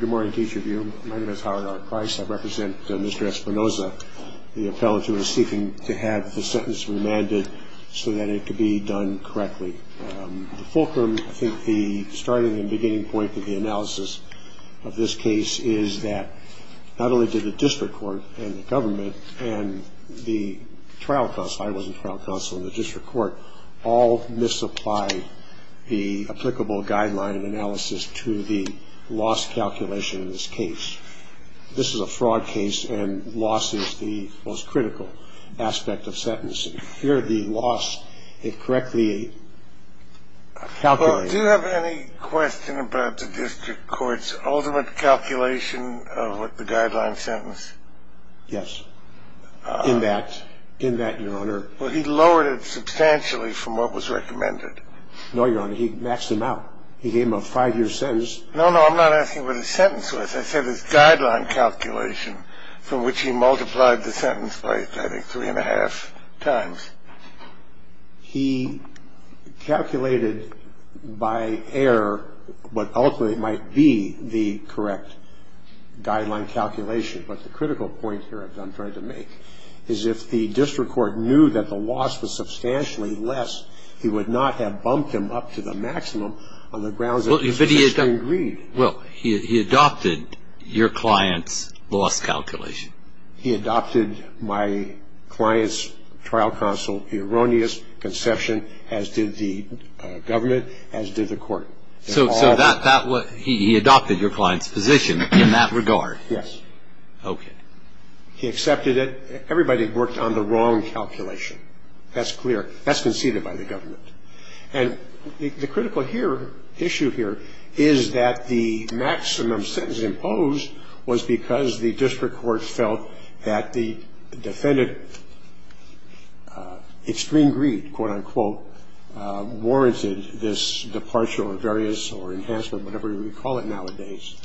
Good morning to each of you. My name is Howard R. Price. I represent Mr. Espinoza, the appellate who is seeking to have the sentence remanded so that it can be done correctly. The fulcrum, I think the starting and beginning point of the analysis of this case is that not only did the district court and the government and the trial counsel and the district court all misapply the applicable guideline analysis to the loss calculation in this case. This is a fraud case and loss is the most critical aspect of sentencing. Here the loss is correctly calculated. Do you have any question about the district court's ultimate calculation of what the guideline sentence? Yes, in that, in that, your honor. Well, he lowered it substantially from what was recommended. No, your honor, he maxed them out. He gave him a five-year sentence. No, no, I'm not asking what his sentence was. I said his guideline calculation, from which he multiplied the sentence by, I think, three and a half times. He calculated by error what ultimately might be the correct guideline calculation. But the critical point here I'm trying to make is if the district court knew that the loss was substantially less, he would not have bumped them up to the maximum on the grounds that it was sufficiently agreed. Well, he adopted your client's loss calculation. He adopted my client's trial counsel erroneous conception, as did the government, as did the court. So that was, he adopted your client's position in that regard? Yes. Okay. He accepted it. Everybody worked on the wrong calculation. That's clear. That's conceded by the government. And the critical issue here is that the maximum sentence imposed was because the district court felt that the defendant, extreme greed, quote, unquote, warranted this departure or various or enhancement, whatever you would call it nowadays.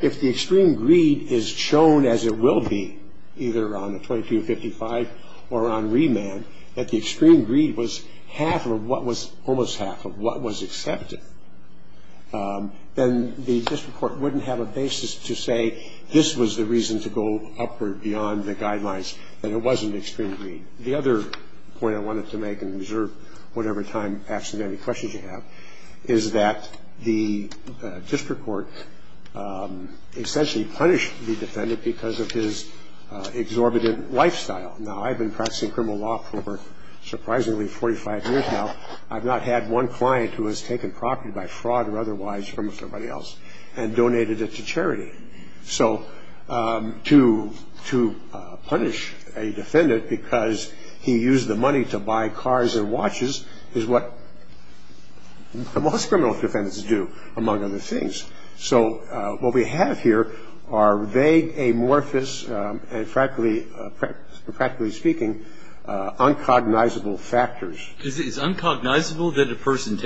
If the extreme greed is shown as it will be, either on the 2255 or on remand, that the extreme greed was half of what was almost half of what was accepted, then the district court wouldn't have a basis to say this was the reason to go upward beyond the guidelines, that it wasn't extreme greed. The other point I wanted to make and reserve whatever time, absolutely, any questions you have, is that the district court essentially punished the defendant because of his exorbitant lifestyle. Now, I've been practicing criminal law for surprisingly 45 years now. I've not had one client who has taken property by fraud or otherwise from somebody else and donated it to charity. So to punish a defendant because he used the money to buy cars and watches is what most criminal defendants do, among other things. So what we have here are vague, amorphous, and practically speaking, uncognizable factors. Is it uncognizable that a person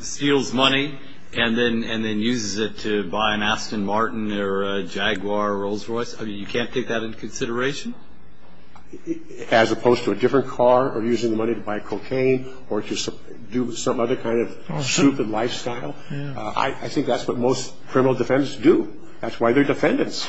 steals money and then uses it to buy an Aston Martin or a Jaguar or a Rolls Royce? I mean, you can't take that into consideration? As opposed to a different car or using the money to buy cocaine or to do some other kind of stupid lifestyle? I think that's what most criminal defendants do. That's why they're defendants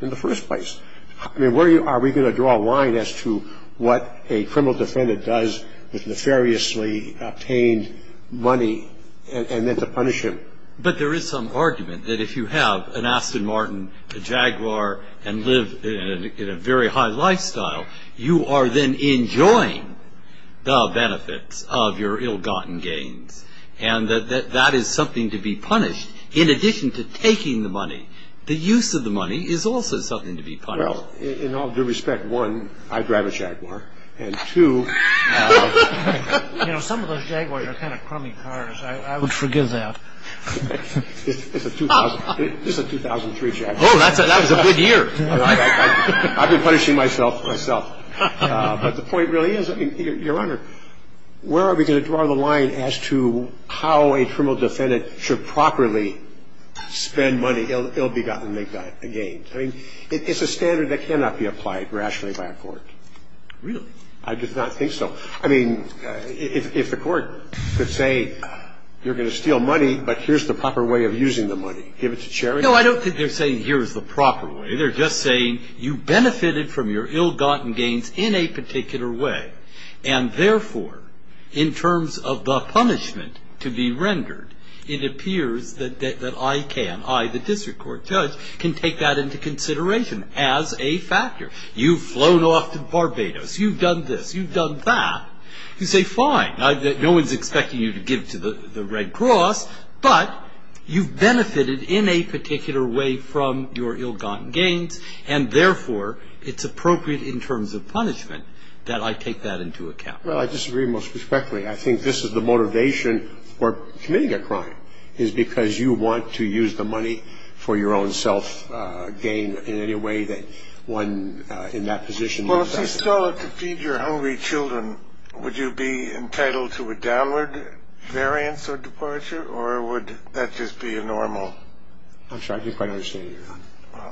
in the first place. I mean, where are we going to draw a line as to what a criminal defendant does with nefariously obtained money and then to punish him? But there is some argument that if you have an Aston Martin, a Jaguar, and live in a very high lifestyle, you are then enjoying the benefits of your ill-gotten gains, and that that is something to be punished. In addition to taking the money, the use of the money is also something to be punished. Well, in all due respect, one, I drive a Jaguar, and two... You know, some of those Jaguars are kind of crummy cars. I would forgive that. It's a 2003 Jaguar. Oh, that was a good year. I've been punishing myself, myself. But the point really is, Your Honor, where are we going to draw the line as to how a criminal defendant should properly spend money, ill-gotten gains? I mean, it's a standard that cannot be applied rationally by a court. Really? I do not think so. I mean, if the court could say, you're going to steal money, but here's the proper way of using the money. Give it to charity. No, I don't think they're saying, here's the proper way. They're just saying, you benefited from your ill-gotten gains in a particular way, and therefore, in terms of the punishment to be rendered, it appears that I can, I, the district court judge, can take that into consideration as a factor. You've flown off to Barbados. You've done this. You've done that. You say, fine. No one's expecting you to give to the Red Cross, but you've benefited in a particular way from your ill-gotten gains, and therefore, it's appropriate in terms of punishment that I take that into account. Well, I disagree most respectfully. I think this is the motivation for committing a crime, is because you want to use the money for your own self-gain in any way that one, in that position. Well, if you stole it to feed your hungry children, would you be entitled to a downward variance or departure, or would that just be a normal? I'm sorry, I didn't quite understand you there.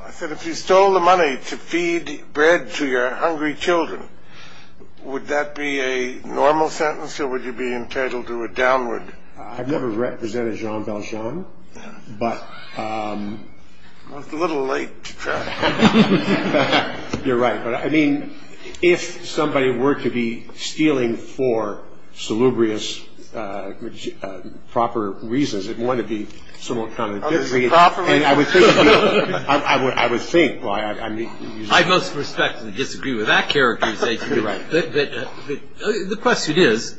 I said, if you stole the money to feed bread to your hungry children, would that be a normal sentence, or would you be entitled to a downward? I've never represented Jean Valjean, but... Well, it's a little late to try. You're right. But, I mean, if somebody were to be stealing for salubrious, proper reasons, it might be somewhat contradictory. Proper reasons? I would think. I most respectfully disagree with that characterization. You're right. The question is,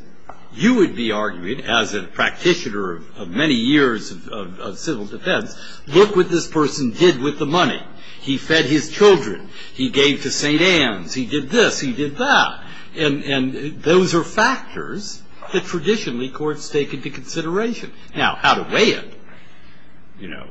you would be argued, as a practitioner of many years of civil defense, look what this person did with the money. He fed his children. He gave to St. Anne's. He did this. He did that. And those are factors that traditionally courts take into consideration. Now, how to weigh it, you know,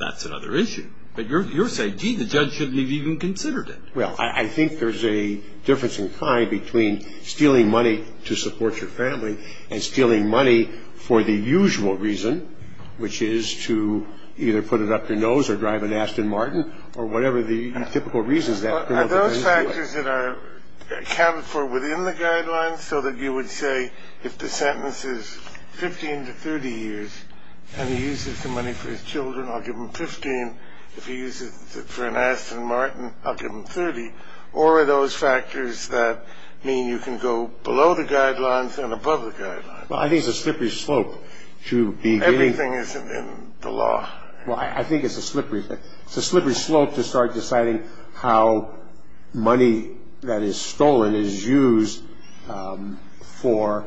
that's another issue. But you're saying, gee, the judge shouldn't have even considered it. Well, I think there's a difference in kind between stealing money to support your family and stealing money for the usual reason, which is to either put it up your nose or drive an Aston Martin or whatever the typical reason is that. Are those factors that are accounted for within the guidelines, so that you would say if the sentence is 15 to 30 years and he uses the money for his children, I'll give him 15. If he uses it for an Aston Martin, I'll give him 30. Or are those factors that mean you can go below the guidelines and above the guidelines? Well, I think it's a slippery slope. Everything is in the law. Well, I think it's a slippery slope to start deciding how money that is stolen is used for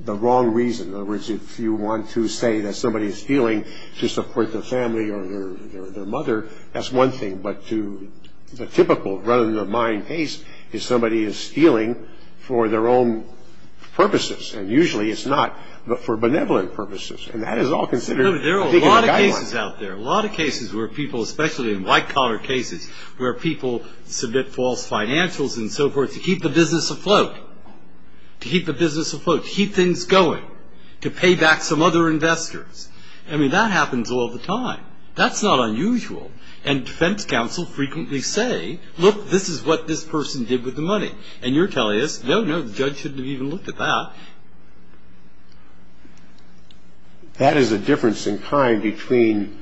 the wrong reason. In other words, if you want to say that somebody is stealing to support their family or their mother, that's one thing. But to the typical run-of-the-mind case is somebody is stealing for their own purposes. And usually it's not, but for benevolent purposes. And that is all considered to be in the guidelines. There are a lot of cases out there, a lot of cases where people, especially in white-collar cases where people submit false financials and so forth to keep the business afloat, to keep the business afloat, to keep things going, to pay back some other investors. I mean, that happens all the time. That's not unusual. And defense counsel frequently say, look, this is what this person did with the money. And you're telling us, no, no, the judge shouldn't have even looked at that. That is a difference in kind between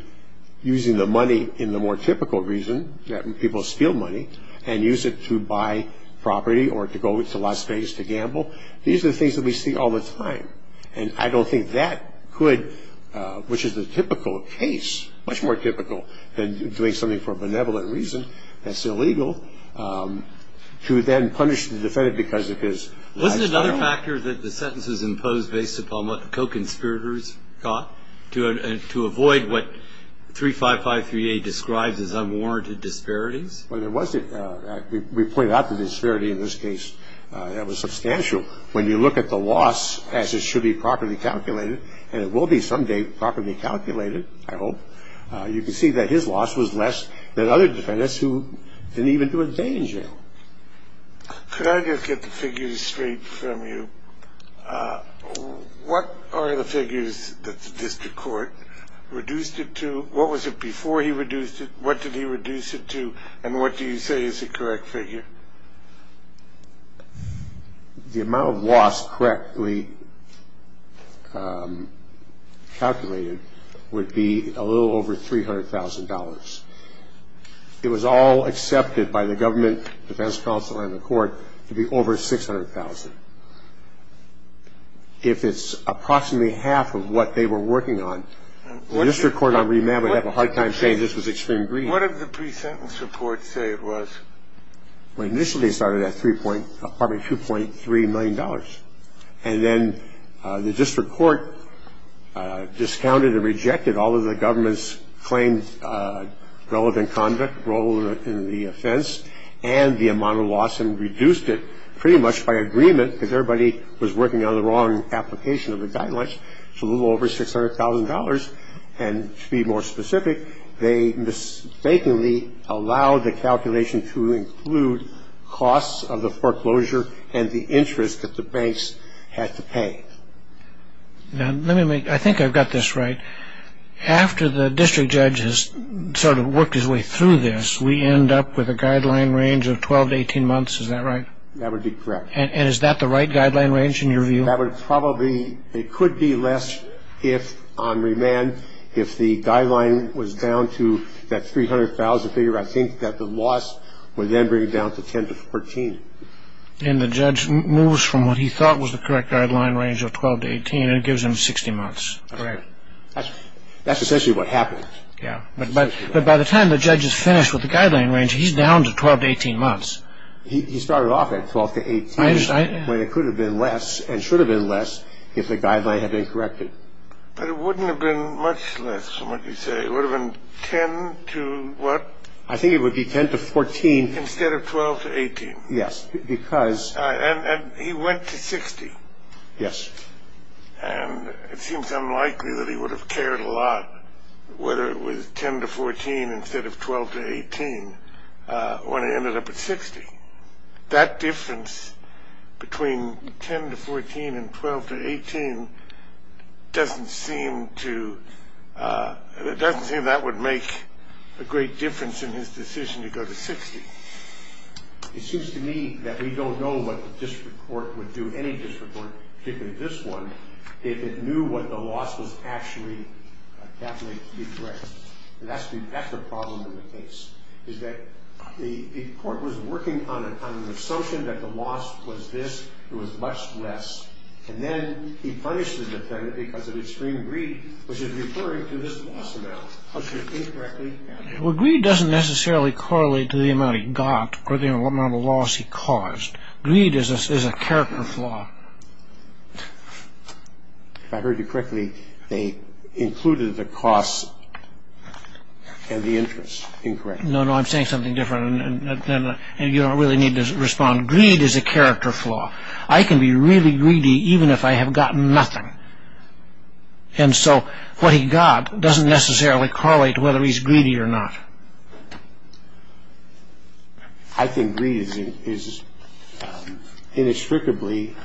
using the money in the more typical reason, that people steal money, and use it to buy property or to go to Las Vegas to gamble. These are the things that we see all the time. And I don't think that could, which is the typical case, much more typical than doing something for a benevolent reason that's illegal, to then punish the defendant because of his lifestyle. Wasn't another factor that the sentence was imposed based upon what co-conspirators got to avoid what 35538 describes as unwarranted disparities? Well, there was. We pointed out the disparity in this case. That was substantial. When you look at the loss as it should be properly calculated, and it will be someday properly calculated, I hope, you can see that his loss was less than other defendants who didn't even do a day in jail. Could I just get the figures straight from you? What are the figures that the district court reduced it to? What was it before he reduced it? What did he reduce it to? And what do you say is the correct figure? The amount of loss correctly calculated would be a little over $300,000. It was all accepted by the government, defense counsel, and the court to be over $600,000. If it's approximately half of what they were working on, the district court on remand would have a hard time saying this was extreme greed. What did the pre-sentence report say it was? Well, initially it started at probably $2.3 million. And then the district court discounted and rejected all of the government's claimed relevant conduct, role in the offense, and the amount of loss and reduced it pretty much by agreement because everybody was working on the wrong application of the guidelines. It's a little over $600,000. And to be more specific, they mistakenly allowed the calculation to include costs of the foreclosure and the interest that the banks had to pay. Now, let me make – I think I've got this right. After the district judge has sort of worked his way through this, we end up with a guideline range of 12 to 18 months. Is that right? That would be correct. And is that the right guideline range in your view? That would probably – it could be less if on remand, if the guideline was down to that $300,000 figure, I think that the loss would then bring it down to 10 to 14. And the judge moves from what he thought was the correct guideline range of 12 to 18 and it gives him 60 months. Correct. That's essentially what happened. Yeah, but by the time the judge is finished with the guideline range, he's down to 12 to 18 months. He started off at 12 to 18 when it could have been less and should have been less if the guideline had been corrected. But it wouldn't have been much less from what you say. It would have been 10 to what? I think it would be 10 to 14. Instead of 12 to 18. Yes, because – And he went to 60. Yes. And it seems unlikely that he would have cared a lot whether it was 10 to 14 instead of 12 to 18 when it ended up at 60. That difference between 10 to 14 and 12 to 18 doesn't seem to – it doesn't seem that would make a great difference in his decision to go to 60. It seems to me that we don't know what the district court would do, any district court, particularly this one, if it knew what the loss was actually calculated to be correct. And that's the problem in the case, is that the court was working on an assumption that the loss was this, it was much less, and then he punished the defendant because of extreme greed, which is referring to this loss amount. Okay. Incorrectly calculated. Well, greed doesn't necessarily correlate to the amount he got or the amount of loss he caused. Greed is a character flaw. If I heard you correctly, they included the cost and the interest. Incorrect. No, no, I'm saying something different, and you don't really need to respond. Greed is a character flaw. I can be really greedy even if I have gotten nothing. And so what he got doesn't necessarily correlate to whether he's greedy or not. I think greed is inextricably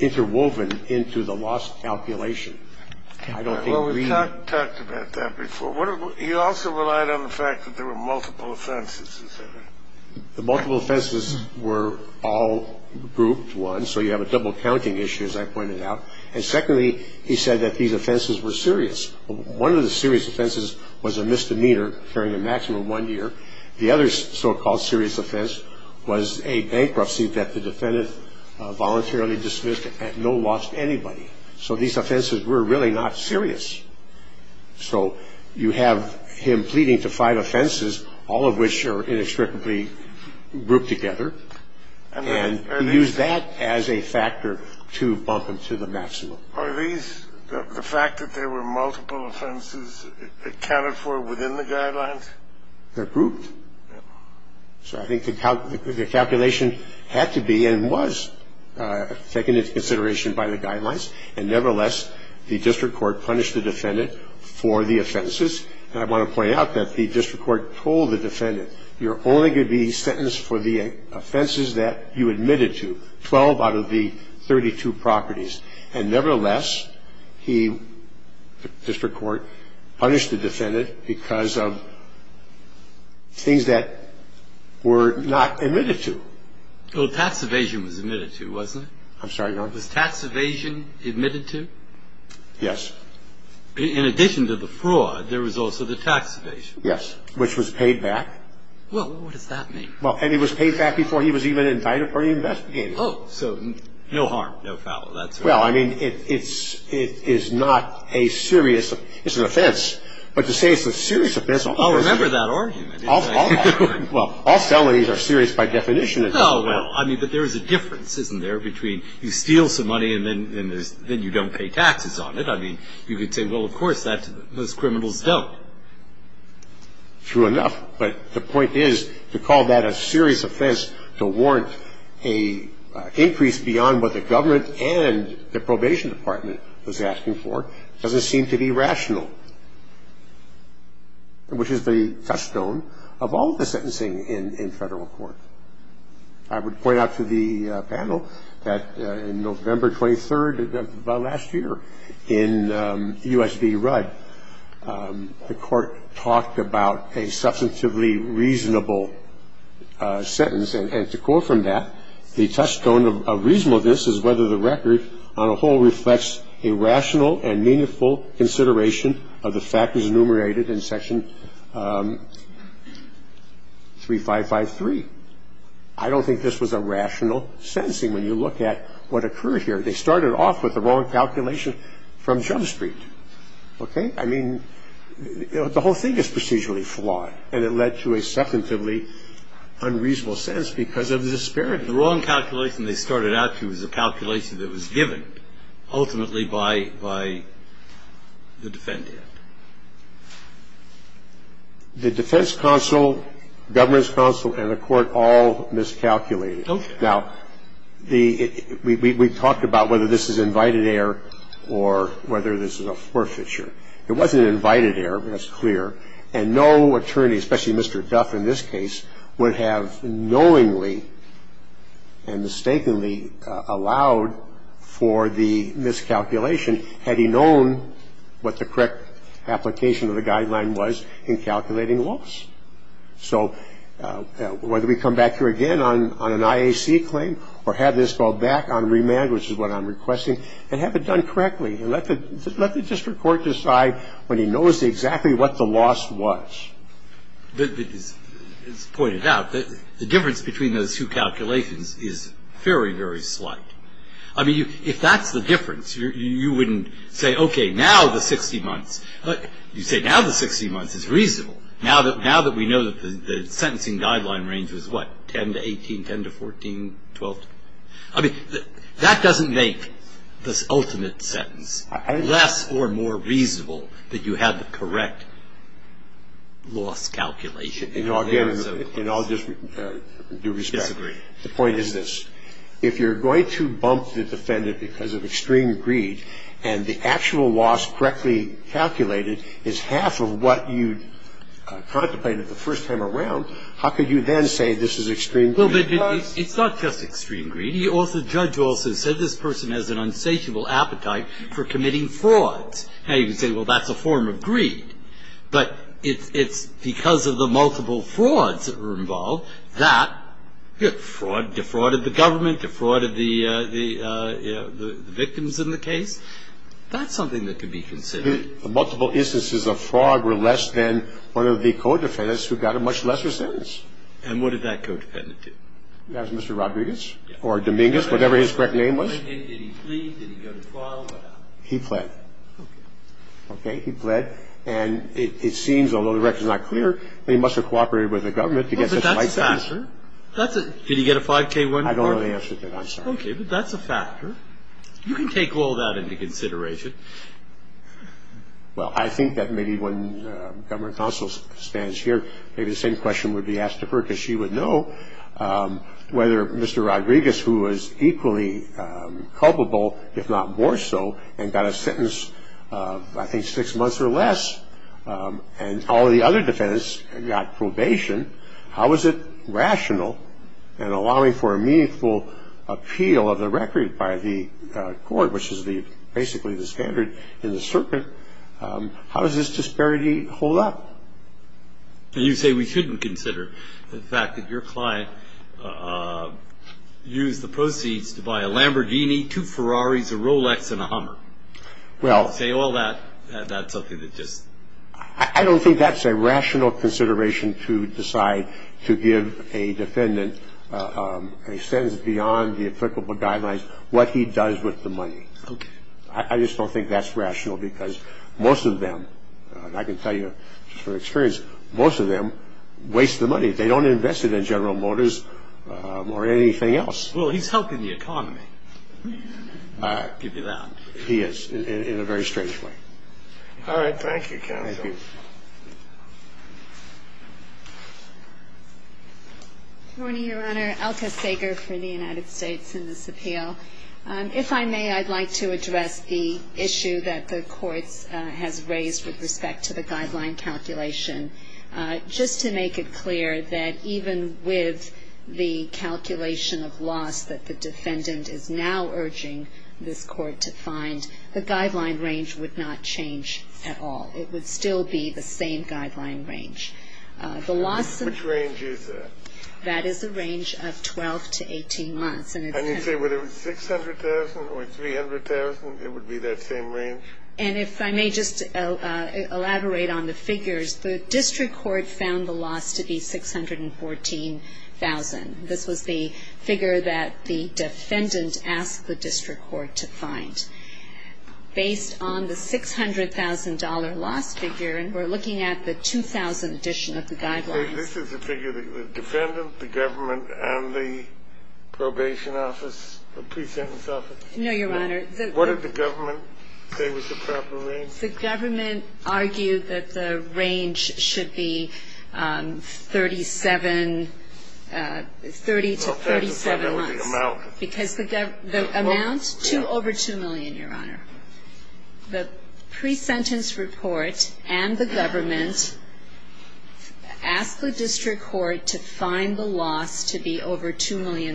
interwoven into the loss calculation. I don't think greed. Well, we've talked about that before. He also relied on the fact that there were multiple offenses, is that right? The multiple offenses were all grouped one, so you have a double counting issue, as I pointed out. And secondly, he said that these offenses were serious. One of the serious offenses was a misdemeanor. During the maximum one year. The other so-called serious offense was a bankruptcy that the defendant voluntarily dismissed at no loss to anybody. So these offenses were really not serious. So you have him pleading to five offenses, all of which are inextricably grouped together, and he used that as a factor to bump them to the maximum. Are these, the fact that there were multiple offenses accounted for within the guidelines? They're grouped. So I think the calculation had to be and was taken into consideration by the guidelines. And nevertheless, the district court punished the defendant for the offenses. And I want to point out that the district court told the defendant, you're only going to be sentenced for the offenses that you admitted to, 12 out of the 32 properties. And nevertheless, he, the district court, punished the defendant because of things that were not admitted to. Well, tax evasion was admitted to, wasn't it? I'm sorry, Your Honor? Was tax evasion admitted to? Yes. In addition to the fraud, there was also the tax evasion. Yes, which was paid back. Well, what does that mean? Well, and it was paid back before he was even invited for an investigation. Oh, so no harm, no foul, that's right. Well, I mean, it is not a serious, it's an offense, but to say it's a serious offense. I'll remember that argument. Well, all felonies are serious by definition. Oh, well, I mean, but there is a difference, isn't there, between you steal some money and then you don't pay taxes on it? I mean, you could say, well, of course, those criminals don't. True enough. But the point is to call that a serious offense to warrant an increase beyond what the government and the probation department was asking for doesn't seem to be rational, which is the touchstone of all the sentencing in federal court. I would point out to the panel that on November 23rd of last year in U.S. v. Rudd, the court talked about a substantively reasonable sentence, and to quote from that, the touchstone of reasonableness is whether the record on a whole reflects a rational and meaningful consideration of the factors enumerated in section 3553. I don't think this was a rational sentencing when you look at what occurred here. They started off with the wrong calculation from Jump Street. Okay? I mean, the whole thing is procedurally flawed, and it led to a substantively unreasonable sentence because of the disparity. The wrong calculation they started out to was a calculation that was given ultimately by the defendant. The defense counsel, governance counsel, and the court all miscalculated. Okay. Now, we talked about whether this is invited error or whether this is a forfeiture. It wasn't invited error. That's clear. And no attorney, especially Mr. Duff in this case, would have knowingly and mistakenly allowed for the miscalculation had he known what the correct application of the guideline was in calculating loss. So whether we come back here again on an IAC claim or have this go back on remand, which is what I'm requesting, and have it done correctly, let the district court decide when he knows exactly what the loss was. It's pointed out that the difference between those two calculations is very, very slight. I mean, if that's the difference, you wouldn't say, okay, now the 60 months. You say, now the 60 months is reasonable. Now that we know that the sentencing guideline range is what, 10 to 18, 10 to 14, 12? I mean, that doesn't make this ultimate sentence less or more reasonable that you had the correct loss calculation. You know, again, in all due respect. Disagree. The point is this. If you're going to bump the defendant because of extreme greed and the actual loss correctly calculated is half of what you contemplated the first time around, how could you then say this is extreme greed? Well, but it's not just extreme greed. The judge also said this person has an unsatiable appetite for committing frauds. Now, you can say, well, that's a form of greed. But it's because of the multiple frauds that were involved that fraud defrauded the government, defrauded the victims in the case. That's something that could be considered. Multiple instances of fraud were less than one of the co-defendants who got a much lesser sentence. And what did that co-defendant do? That was Mr. Rodriguez or Dominguez, whatever his correct name was. Did he plead? Did he go to trial? He pled. Okay. He pled. And it seems, although the record is not clear, that he must have cooperated with the government to get such a light sentence. But that's his answer. Did he get a 5K1? I don't know the answer to that. I'm sorry. Okay. But that's a factor. You can take all that into consideration. Well, I think that maybe when the government counsel stands here, maybe the same question would be asked of her because she would know whether Mr. Rodriguez, who was equally culpable, if not more so, and got a sentence of, I think, six months or less, and all the other defendants got probation, how is it rational in allowing for a meaningful appeal of the record by the court, which is basically the standard in the circuit, how does this disparity hold up? You say we shouldn't consider the fact that your client used the proceeds to buy a Lamborghini, two Ferraris, a Rolex, and a Hummer. Well. You say all that, that's something that just. I don't think that's a rational consideration to decide to give a defendant a sentence beyond the applicable guidelines, what he does with the money. Okay. I just don't think that's rational because most of them, and I can tell you from experience, most of them waste the money. They don't invest it in General Motors or anything else. Well, he's helping the economy. I'll give you that. He is, in a very strange way. All right. Thank you, counsel. Thank you. Good morning, Your Honor. Alka Sager for the United States in this appeal. If I may, I'd like to address the issue that the court has raised with respect to the guideline calculation. Just to make it clear that even with the calculation of loss that the defendant is now urging this court to find, the guideline range would not change at all. It would still be the same guideline range. Which range is that? That is a range of 12 to 18 months. And you say whether it was $600,000 or $300,000, it would be that same range? And if I may just elaborate on the figures, the district court found the loss to be $614,000. This was the figure that the defendant asked the district court to find. Based on the $600,000 loss figure, and we're looking at the 2000 edition of the guidelines. This is the figure that the defendant, the government, and the probation office, the pre-sentence office? No, Your Honor. What did the government say was the proper range? The government argued that the range should be 37, 30 to 37 months. Because the amount to over $2 million, Your Honor. The pre-sentence report and the government asked the district court to find the loss to be over $2 million.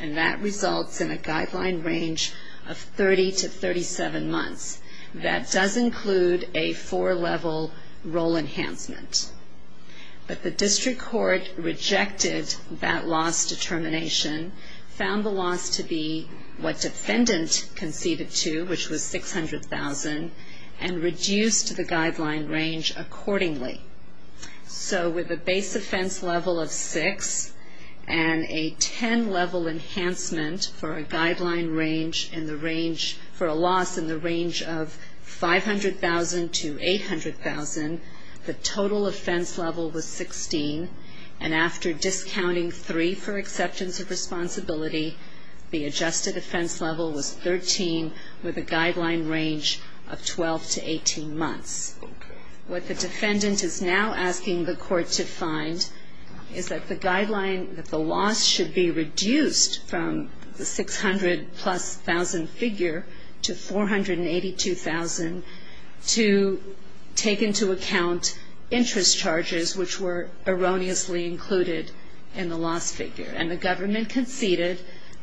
And that results in a guideline range of 30 to 37 months. That does include a four-level role enhancement. But the district court rejected that loss determination, found the loss to be what defendant conceded to, which was $600,000, and reduced the guideline range accordingly. So with a base offense level of 6 and a 10-level enhancement for a guideline range, for a loss in the range of $500,000 to $800,000, the total offense level was 16. And after discounting 3 for acceptance of responsibility, the adjusted offense level was 13 with a guideline range of 12 to 18 months. What the defendant is now asking the court to find is that the guideline, that the loss should be reduced from the $600,000-plus figure to $482,000 to take into account interest charges, which were erroneously included in the loss figure. And the government conceded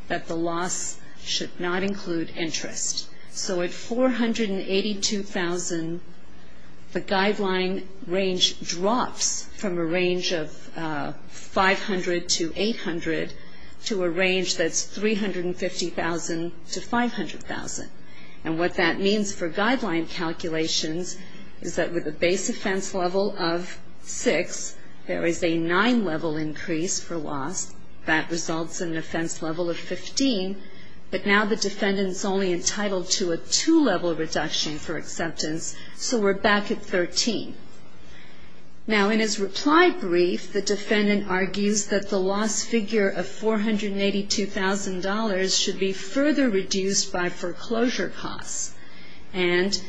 that the loss should not include interest. So at $482,000, the guideline range drops from a range of $500,000 to $800,000 to a range that's $350,000 to $500,000. And what that means for guideline calculations is that with a base offense level of 6, there is a 9-level increase for loss. That results in an offense level of 15. But now the defendant's only entitled to a 2-level reduction for acceptance, so we're back at 13. Now, in his reply brief, the defendant argues that the loss figure of $482,000 should be further reduced by foreclosure costs. And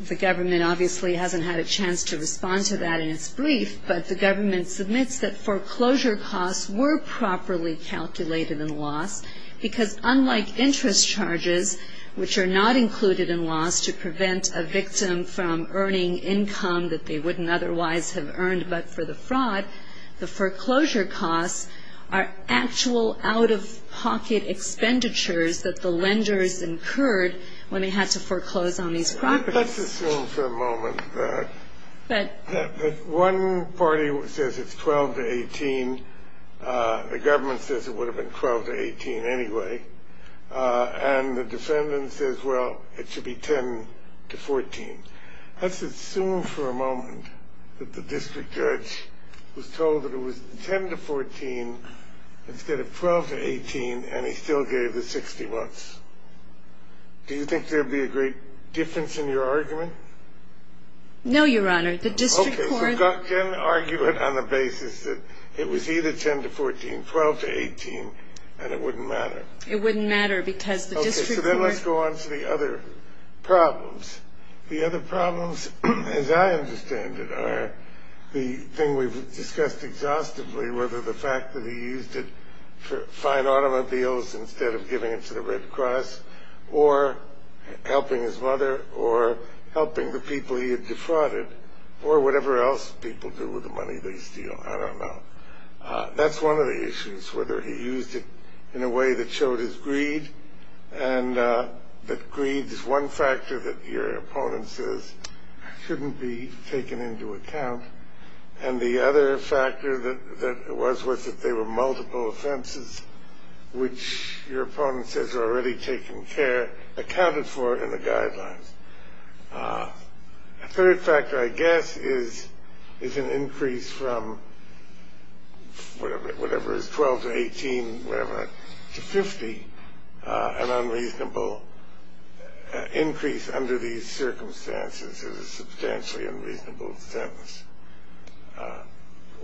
the government obviously hasn't had a chance to respond to that in its brief, but the government submits that foreclosure costs were properly calculated in loss because unlike interest charges, which are not included in loss to prevent a victim from earning income that they wouldn't otherwise have earned but for the fraud, the foreclosure costs are actual out-of-pocket expenditures that the lenders incurred when they had to foreclose on these properties. Let's assume for a moment that one party says it's 12 to 18. The government says it would have been 12 to 18 anyway. And the defendant says, well, it should be 10 to 14. Let's assume for a moment that the district judge was told that it was 10 to 14 instead of 12 to 18, and he still gave the 60 bucks. Do you think there would be a great difference in your argument? No, Your Honor. Okay, then argue it on the basis that it was either 10 to 14, 12 to 18, and it wouldn't matter. It wouldn't matter because the district court Okay, so then let's go on to the other problems. The other problems, as I understand it, are the thing we've discussed exhaustively, whether the fact that he used it for fine automobiles instead of giving it to the Red Cross or helping his mother or helping the people he had defrauded or whatever else people do with the money they steal. I don't know. That's one of the issues, whether he used it in a way that showed his greed and that greed is one factor that your opponent says shouldn't be taken into account. And the other factor that it was was that there were multiple offenses which your opponent says are already taken care, accounted for in the guidelines. A third factor, I guess, is an increase from whatever is 12 to 18, whatever, to 50, an unreasonable increase under these circumstances is a substantially unreasonable sentence.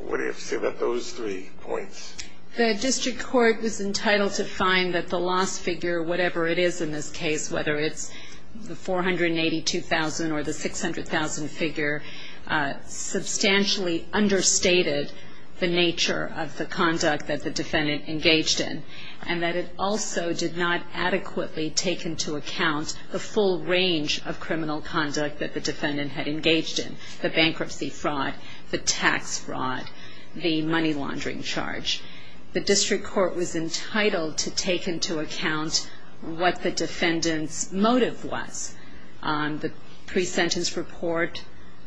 What do you have to say about those three points? The district court was entitled to find that the loss figure, whatever it is in this case, whether it's the 482,000 or the 600,000 figure, substantially understated the nature of the conduct that the defendant engaged in and that it also did not adequately take into account the full range of criminal conduct that the defendant had engaged in, the bankruptcy fraud, the tax fraud, the money laundering charge. The district court was entitled to take into account what the defendant's motive was. The pre-sentence report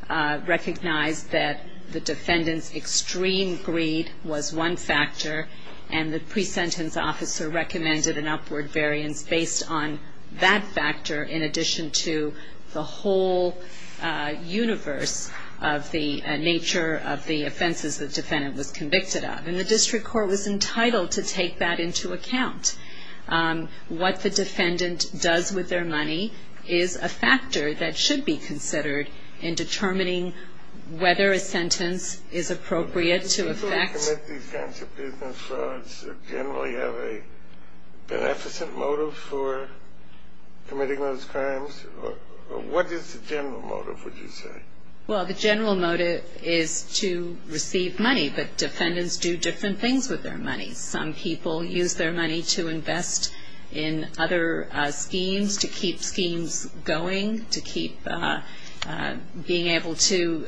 recognized that the defendant's extreme greed was one factor and the pre-sentence officer recommended an upward variance based on that factor in addition to the whole universe of the nature of the offenses the defendant was convicted of. And the district court was entitled to take that into account. What the defendant does with their money is a factor that should be considered in determining whether a sentence is appropriate to affect Do defendants who commit these kinds of business frauds generally have a beneficent motive for committing those crimes? What is the general motive, would you say? Well, the general motive is to receive money, but defendants do different things with their money. Some people use their money to invest in other schemes, to keep schemes going, to keep being able to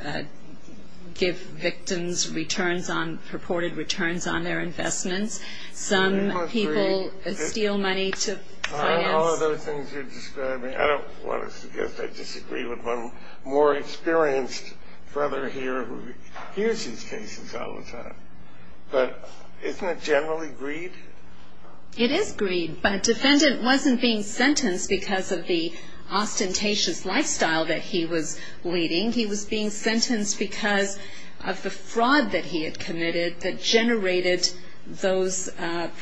give victims returns on, purported returns on their investments. Some people steal money to finance I know all of those things you're describing. I don't want to suggest I disagree with one more experienced brother here who hears these cases all the time. But isn't it generally greed? It is greed, but a defendant wasn't being sentenced because of the ostentatious lifestyle that he was leading. He was being sentenced because of the fraud that he had committed that generated those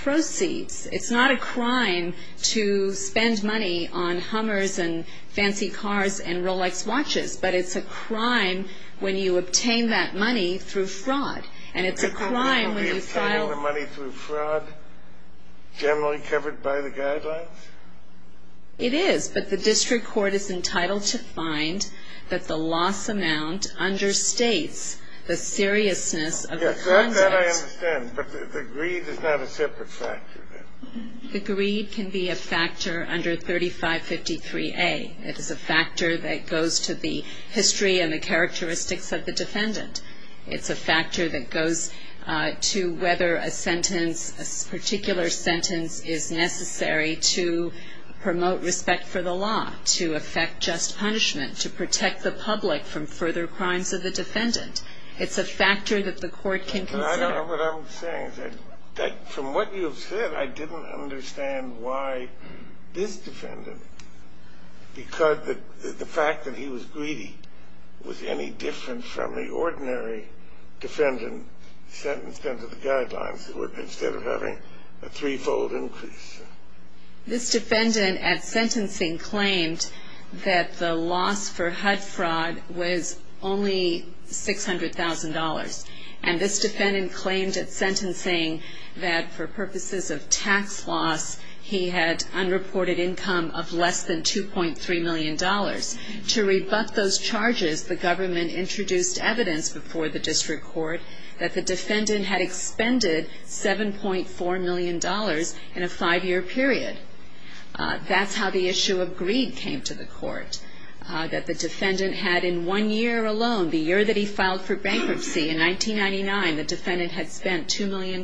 proceeds. It's not a crime to spend money on Hummers and fancy cars and Rolex watches, but it's a crime when you obtain that money through fraud. And it's a crime when you file... Is obtaining the money through fraud generally covered by the guidelines? It is, but the district court is entitled to find that the loss amount understates the seriousness of the conduct. Yes, that I understand, but the greed is not a separate factor. The greed can be a factor under 3553A. It is a factor that goes to the history and the characteristics of the defendant. It's a factor that goes to whether a sentence, a particular sentence, is necessary to promote respect for the law, to effect just punishment, to protect the public from further crimes of the defendant. It's a factor that the court can consider. I don't know what I'm saying. From what you've said, I didn't understand why this defendant, because the fact that he was greedy was any different from the ordinary defendant sentenced under the guidelines instead of having a three-fold increase. This defendant at sentencing claimed that the loss for HUD fraud was only $600,000. And this defendant claimed at sentencing that for purposes of tax loss, he had unreported income of less than $2.3 million. To rebut those charges, the government introduced evidence before the district court that the defendant had expended $7.4 million in a five-year period. That's how the issue of greed came to the court, that the defendant had in one year alone, the year that he filed for bankruptcy, in 1999, the defendant had spent $2 million,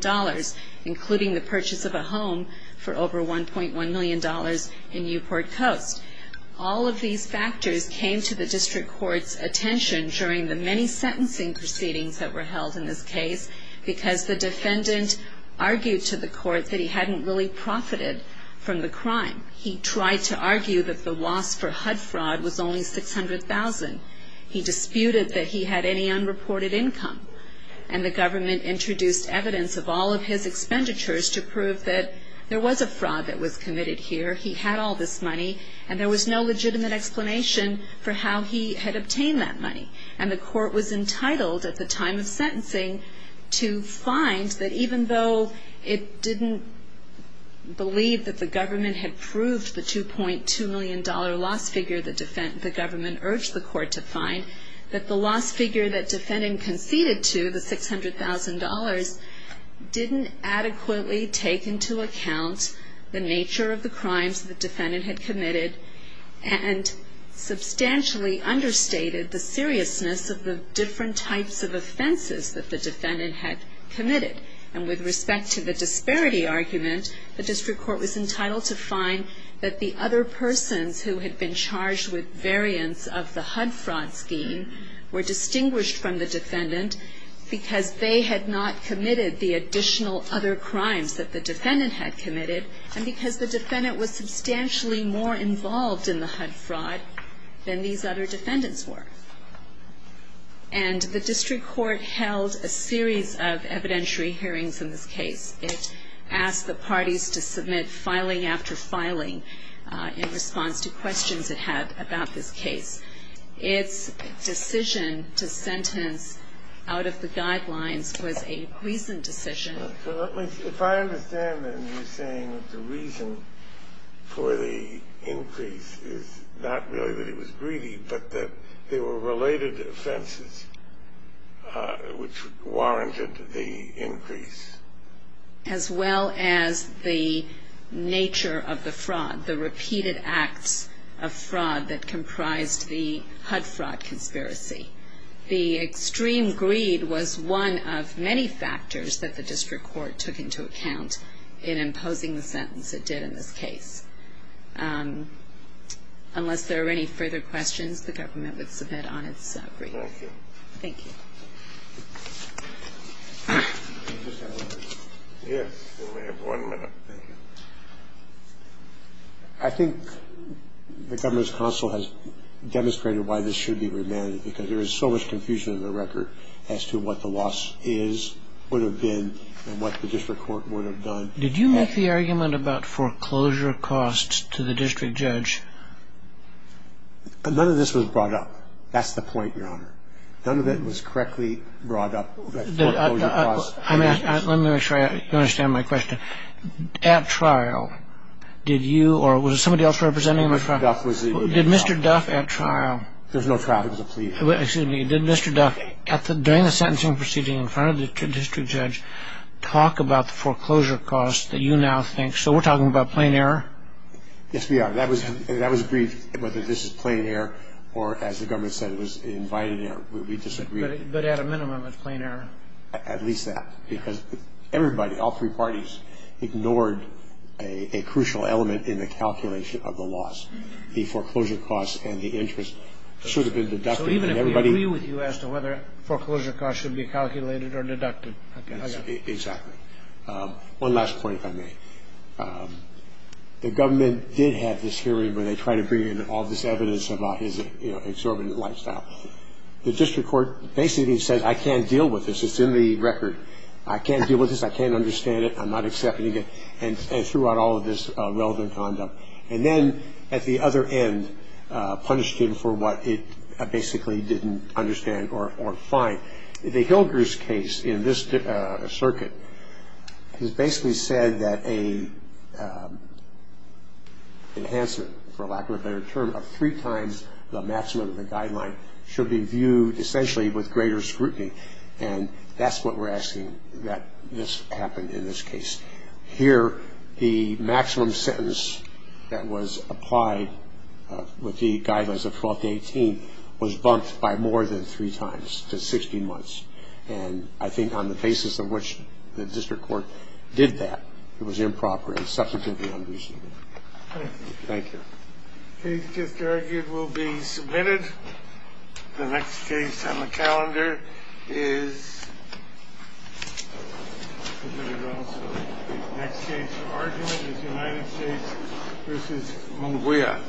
including the purchase of a home for over $1.1 million in Newport Coast. All of these factors came to the district court's attention during the many sentencing proceedings that were held in this case because the defendant argued to the court that he hadn't really profited from the crime. He tried to argue that the loss for HUD fraud was only $600,000. He disputed that he had any unreported income, and the government introduced evidence of all of his expenditures to prove that there was a fraud that was committed here, he had all this money, and there was no legitimate explanation for how he had obtained that money. And the court was entitled, at the time of sentencing, to find that even though it didn't believe that the government had proved the $2.2 million loss figure the government urged the court to find, that the loss figure that defendant conceded to, the $600,000, didn't adequately take into account the nature of the crimes the defendant had committed and substantially understated the seriousness of the different types of offenses that the defendant had committed. And with respect to the disparity argument, the district court was entitled to find that the other persons who had been charged with variance of the HUD fraud scheme were distinguished from the defendant because they had not committed the additional other crimes that the defendant had committed, and because the defendant was substantially more involved in the HUD fraud than these other defendants were. And the district court held a series of evidentiary hearings in this case. It asked the parties to submit filing after filing in response to questions it had about this case. Its decision to sentence out of the guidelines was a reasoned decision. So if I understand then you're saying that the reason for the increase is not really that it was greedy, but that there were related offenses which warranted the increase. As well as the nature of the fraud, the repeated acts of fraud that comprised the HUD fraud conspiracy. The extreme greed was one of many factors that the district court took into account in imposing the sentence it did in this case. Unless there are any further questions, the government would submit on its brief. Thank you. Thank you. I think the governor's counsel has demonstrated why this should be remanded because there is so much confusion in the record as to what the loss is, would have been, and what the district court would have done. Did you make the argument about foreclosure costs to the district judge? None of this was brought up. That's the point, Your Honor. None of it was correctly brought up. Let me make sure you understand my question. At trial, did you or was it somebody else representing the trial? Did Mr. Duff at trial? There's no trial, it was a plea. Excuse me. Did Mr. Duff during the sentencing proceeding in front of the district judge talk about the foreclosure costs that you now think? So we're talking about plain error? Yes, we are. That was brief whether this is plain error or, as the government said, it was invited error. We disagree. But at a minimum, it's plain error. At least that because everybody, all three parties, ignored a crucial element in the calculation of the loss. The foreclosure costs and the interest should have been deducted. So even if we agree with you as to whether foreclosure costs should be calculated or deducted? Exactly. One last point, if I may. The government did have this hearing where they tried to bring in all this evidence about his exorbitant lifestyle. The district court basically said, I can't deal with this. It's in the record. I can't deal with this. I can't understand it. I'm not accepting it. And threw out all of this relevant condom. And then at the other end, punished him for what it basically didn't understand or find. The Hilgers case in this circuit has basically said that an enhancement, for lack of a better term, of three times the maximum of the guideline should be viewed essentially with greater scrutiny. And that's what we're asking that this happen in this case. Here, the maximum sentence that was applied with the guidelines of 12 to 18 was bumped by more than three times, to 16 months. And I think on the basis of which the district court did that, it was improper and substantively unreasonable. Thank you. Thank you. The case just argued will be submitted. The next case on the calendar is submitted also. The next case for argument is United States v. Mongolia.